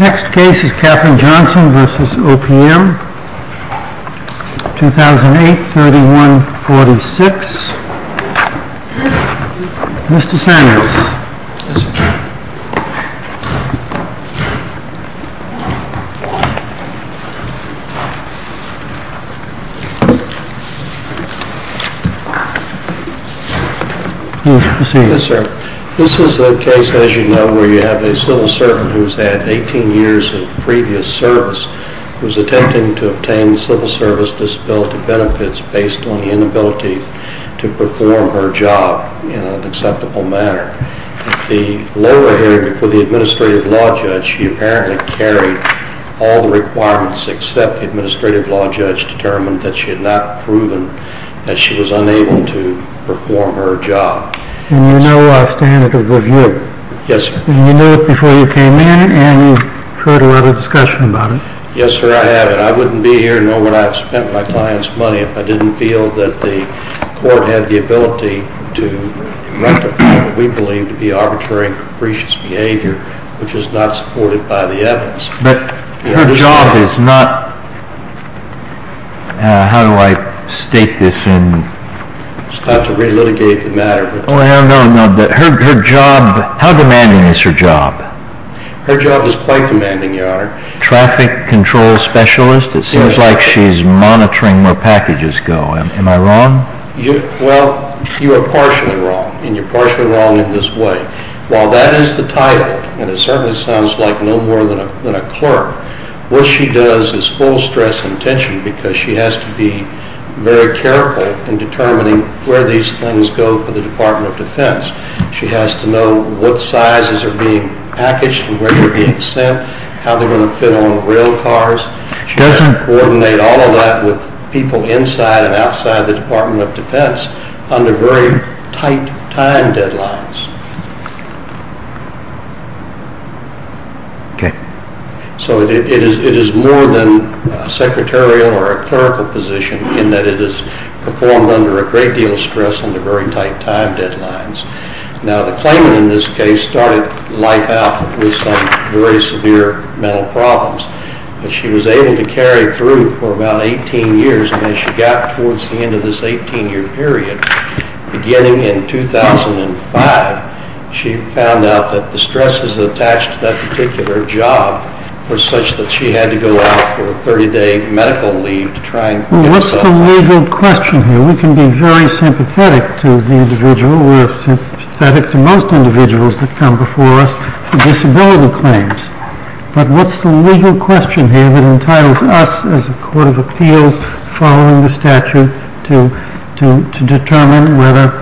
Next case is Katherine Johnson v. OPM, 2008, 3146. Mr. Sanders. Yes, sir. This is a case, as you know, where you have a civil servant who has had 18 years of previous service, who is attempting to obtain civil service disability benefits based on the inability to perform her job in an acceptable manner. At the lower hearing before the Administrative Law Judge, she apparently carried all the requirements except the Administrative Law Judge determined that she had not proven that she was unable to perform her job. And you know our standard of review? Yes, sir. And you knew it before you came in and you've heard a lot of discussion about it? Yes, sir, I have. And I wouldn't be here and know what I've spent my client's money if I didn't feel that the court had the ability to rectify what we believe to be arbitrary and capricious behavior, which is not supported by the evidence. But her job is not, how do I state this in... It's not to re-litigate the matter, but... No, no, no, but her job, how demanding is her job? Her job is quite demanding, Your Honor. Traffic Control Specialist, it seems like she's monitoring where packages go. Am I wrong? Well, you are partially wrong, and you're partially wrong in this way. While that is the title, and it certainly sounds like no more than a clerk, what she does is full stress and tension because she has to be very careful in determining where these things go for the Department of Defense. She has to know what sizes are being packaged and where they're going to fit on rail cars. She has to coordinate all of that with people inside and outside the Department of Defense under very tight time deadlines. Okay. So it is more than a secretarial or a clerical position in that it is performed under a great deal of stress under very tight time deadlines. Now, the claimant in this case started life out with some very severe mental problems, but she was able to carry through for about 18 years, and as she got towards the end of this 18-year period, beginning in 2005, she found out that the stresses attached to that particular job were such that she had to go out for a 30-day medical leave to try and... What's the legal question here? We can be very sympathetic to the individual. We're sympathetic to most individuals that come before us for disability claims. But what's the legal question here that entitles us as a court of appeals following the statute to determine whether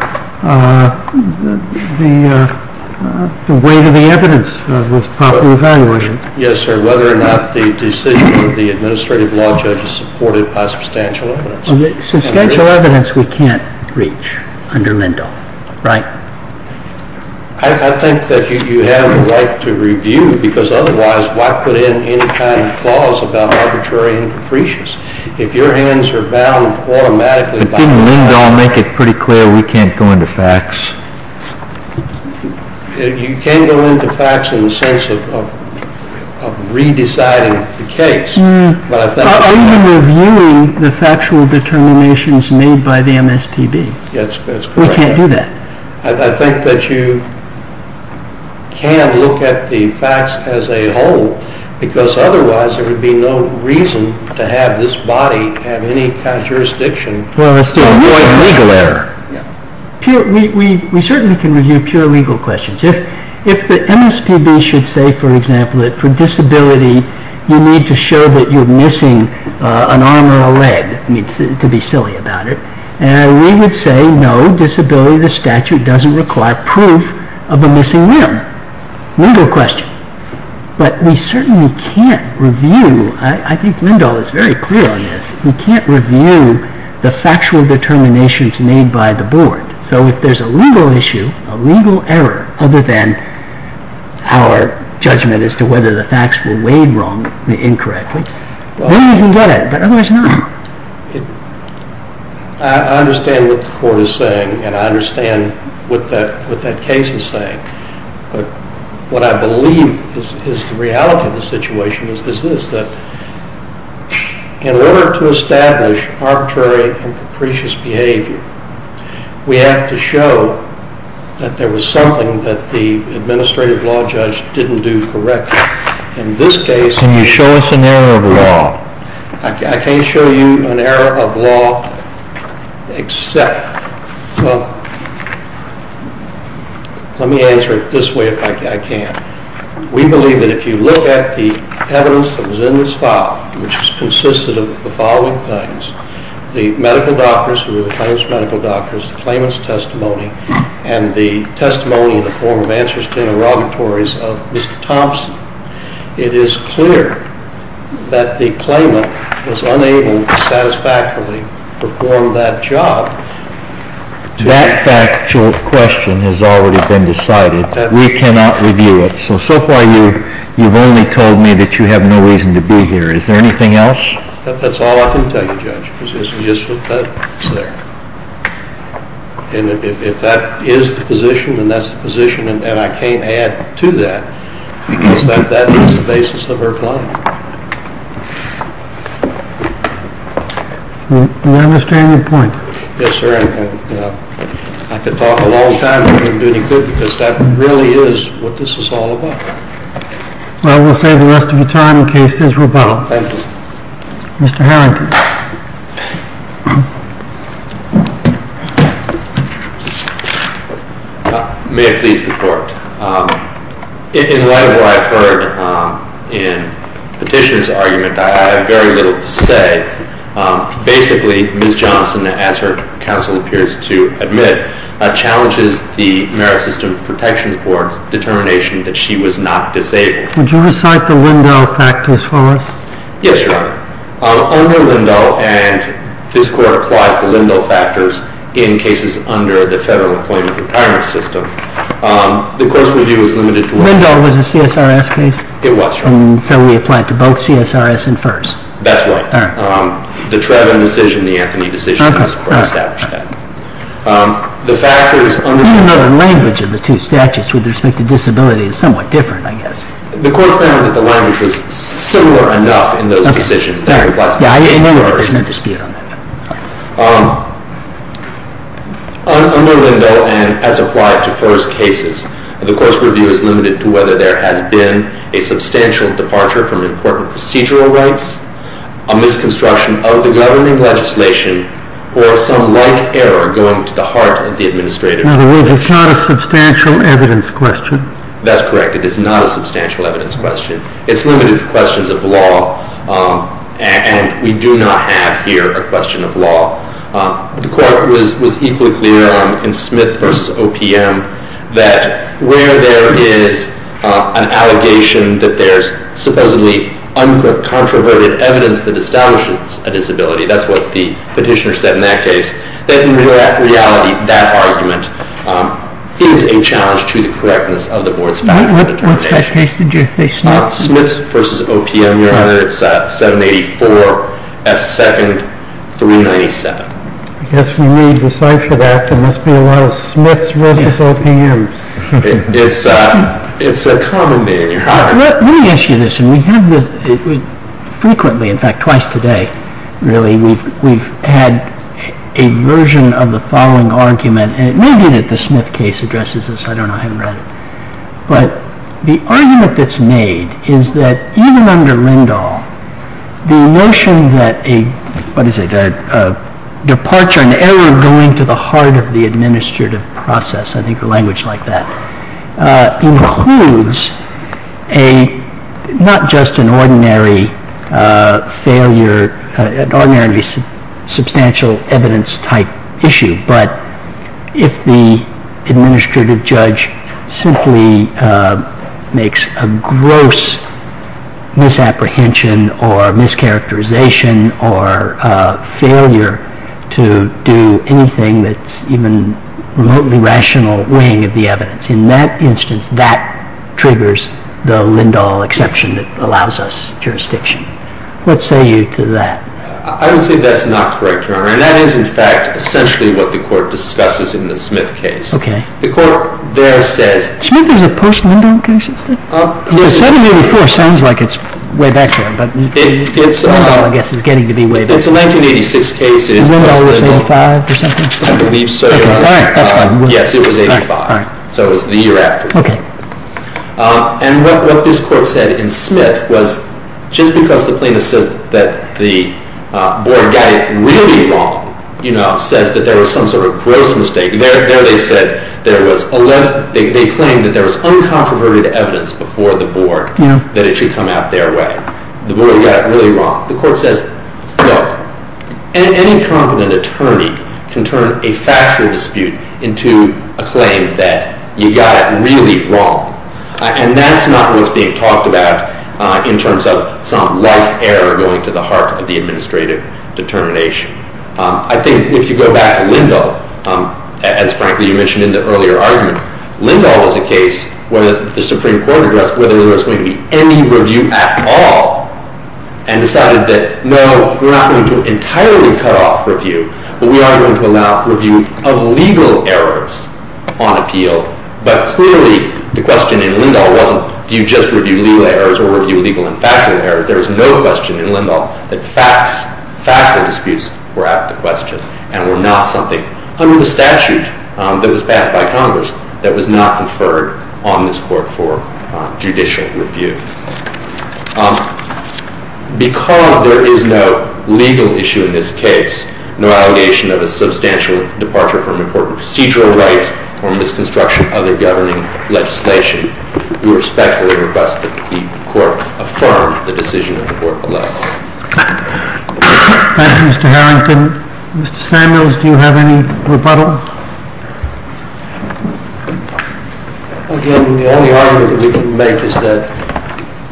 the weight of the evidence was properly evaluated? Yes, sir. Whether or not the decision of the administrative law judge is supported by substantial evidence. Substantial evidence we can't reach under Lindahl, right? I think that you have the right to review, because otherwise, why put in any kind of clause about arbitrary and capricious? If your hands are bound automatically... But didn't Lindahl make it pretty clear we can't go into facts? You can go into facts in the sense of re-deciding the case, but I think... But are you reviewing the factual determinations made by the MSPB? Yes, that's correct. We can't do that. I think that you can look at the facts as a whole, because otherwise, there would be no reason to have this body have any kind of jurisdiction... Well, it's still a point of legal error. We certainly can review pure legal questions. If the MSPB should say, for example, that for disability, you need to show that you're missing an arm or a leg, to be silly about it, and we would say, no, disability of the statute doesn't require proof of a missing limb. Legal question. But we certainly can't review, I think Lindahl is very clear on this, we can't review the factual determinations made by the board. So if there's a legal issue, a legal error, other than our judgment as to whether the facts were weighed wrongly, incorrectly, maybe we can get at it, but otherwise not. I understand what the court is saying, and I understand what that case is saying, but what I believe is the reality of the situation is this, that in order to establish arbitrary and capricious behavior, we have to show that there was something that the administrative law judge didn't do correctly. In this case... Can you show us an error of law? I can't show you an error of law except... Well, let me answer it this way if I can. We believe that if you look at the evidence that was in this file, which consisted of the following things, the medical doctors, who were the claims medical doctors, the claimant's testimony, and the testimony in the form of answers to interrogatories of Mr. Thompson, it is clear that the claimant was unable to satisfactorily perform that job. That factual question has already been decided. We cannot review it. So, so far you've only told me that you have no reason to be here. Is there anything else? That's all I can tell you, Judge, because this is just what's there. If that is the position, then that's the position, and I can't add to that, because that is the basis of our claim. I understand your point. Yes, sir. I could talk a long time, but I wouldn't do any good, because that really is what this is all about. Well, we'll save the rest of your time in case there's rebuttal. Thank you. Mr. Harrington. May it please the Court. In light of what I've heard in Petitioner's argument, I have very little to say. Basically, Ms. Johnson, as her counsel appears to admit, challenges the Merit System Protection Board's determination that she was not disabled. Would you recite the Lindahl fact as far as? Yes, Your Honor. Under Lindahl, and this Court applies the Lindahl factors in cases under the Federal Employment Retirement System, the court's review is limited to one case. Lindahl was a CSRS case? It was, Your Honor. And so we apply it to both CSRS and FERS? That's right. The Trevin decision, the Anthony decision, this Court established that. Any other language of the two statutes with respect to disability is somewhat different, I guess. The Court found that the language was similar enough in those decisions that it was. Yeah, I know that there's no dispute on that. Under Lindahl, and as applied to FERS cases, the Court's review is limited to whether there has been a substantial departure from important procedural rights, a misconstruction of the governing legislation, or some like error going to the heart of the administrator. In other words, it's not a substantial evidence question? That's correct. It is not a substantial evidence question. It's limited to questions of law, and we do not have here a question of law. The Court was equally clear in Smith v. OPM that where there is an allegation that there's supposedly uncontroverted evidence that establishes a disability, that's what the petitioner said in that case, that in reality, that argument is a challenge to the correctness of the Board's factual determination. What statute case did you say, Smith? Smith v. OPM, Your Honor. It's 784-F2-397. I guess we need to cipher that. There must be a lot of Smiths v. OPMs. It's a common name, Your Honor. Let me ask you this, and we have this frequently, in fact, twice today, really. We've had a version of the following argument, and it may be that the Smith case addresses this. I don't know. I haven't read it. But the argument that's made is that even under Lindahl, the notion that a departure, an error going to the heart of the administrative process, I think a language like that, includes not just an ordinary failure, an ordinarily substantial evidence-type issue, but if the administrative judge simply makes a gross misapprehension or mischaracterization or failure to do anything that's even remotely rational weighing of the evidence, in that instance, that triggers the Lindahl exception that allows us jurisdiction. What say you to that? I would say that's not correct, Your Honor. And that is, in fact, essentially what the Court discusses in the Smith case. Okay. The Court there says— Smith was a post-Lindahl case? Yes. 7-84 sounds like it's way back then, but Lindahl, I guess, is getting to be way back. It's a 1986 case. Was Lindahl always 85 or something? I believe so. All right. That's fine. Yes, it was 85. All right. So it was the year after. Okay. And what this Court said in Smith was just because the plaintiff says that the board got it really wrong, you know, says that there was some sort of gross mistake. There they said there was 11—they claimed that there was uncomproverted evidence before the board that it should come out their way. The board got it really wrong. The Court says, look, any competent attorney can turn a factual dispute into a claim that you got it really wrong. And that's not what's being talked about in terms of some light error going to the heart of the administrative determination. I think if you go back to Lindahl, as, frankly, you mentioned in the earlier argument, Lindahl was a case where the Supreme Court addressed whether there was going to be any review at all and decided that, no, we're not going to entirely cut off review, but we are going to allow review of legal errors on appeal. But clearly the question in Lindahl wasn't do you just review legal errors or review legal and factual errors. There was no question in Lindahl that facts, factual disputes were out of the question and were not something under the statute that was passed by Congress that was not conferred on this Court for judicial review. Because there is no legal issue in this case, no allegation of a substantial departure from important procedural rights or misconstruction of the governing legislation, we respectfully request that the Court affirm the decision that the Court allows. Thank you, Mr. Harrington. Mr. Samuels, do you have any rebuttal? Again, the only argument that we can make is that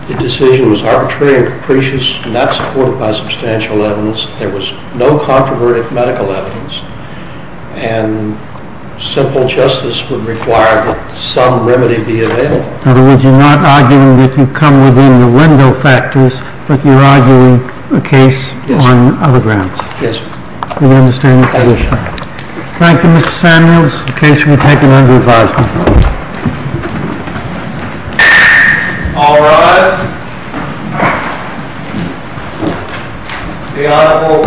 the decision was arbitrary and capricious, not supported by substantial evidence. There was no controverted medical evidence, and simple justice would require that some remedy be availed. In other words, you're not arguing that you come within the window factors, but you're arguing a case on other grounds. Yes. We understand the position. Thank you, Your Honor. Thank you, Mr. Samuels. The case will be taken under advisement. All rise. The Honorable Court is adjourned from day to day.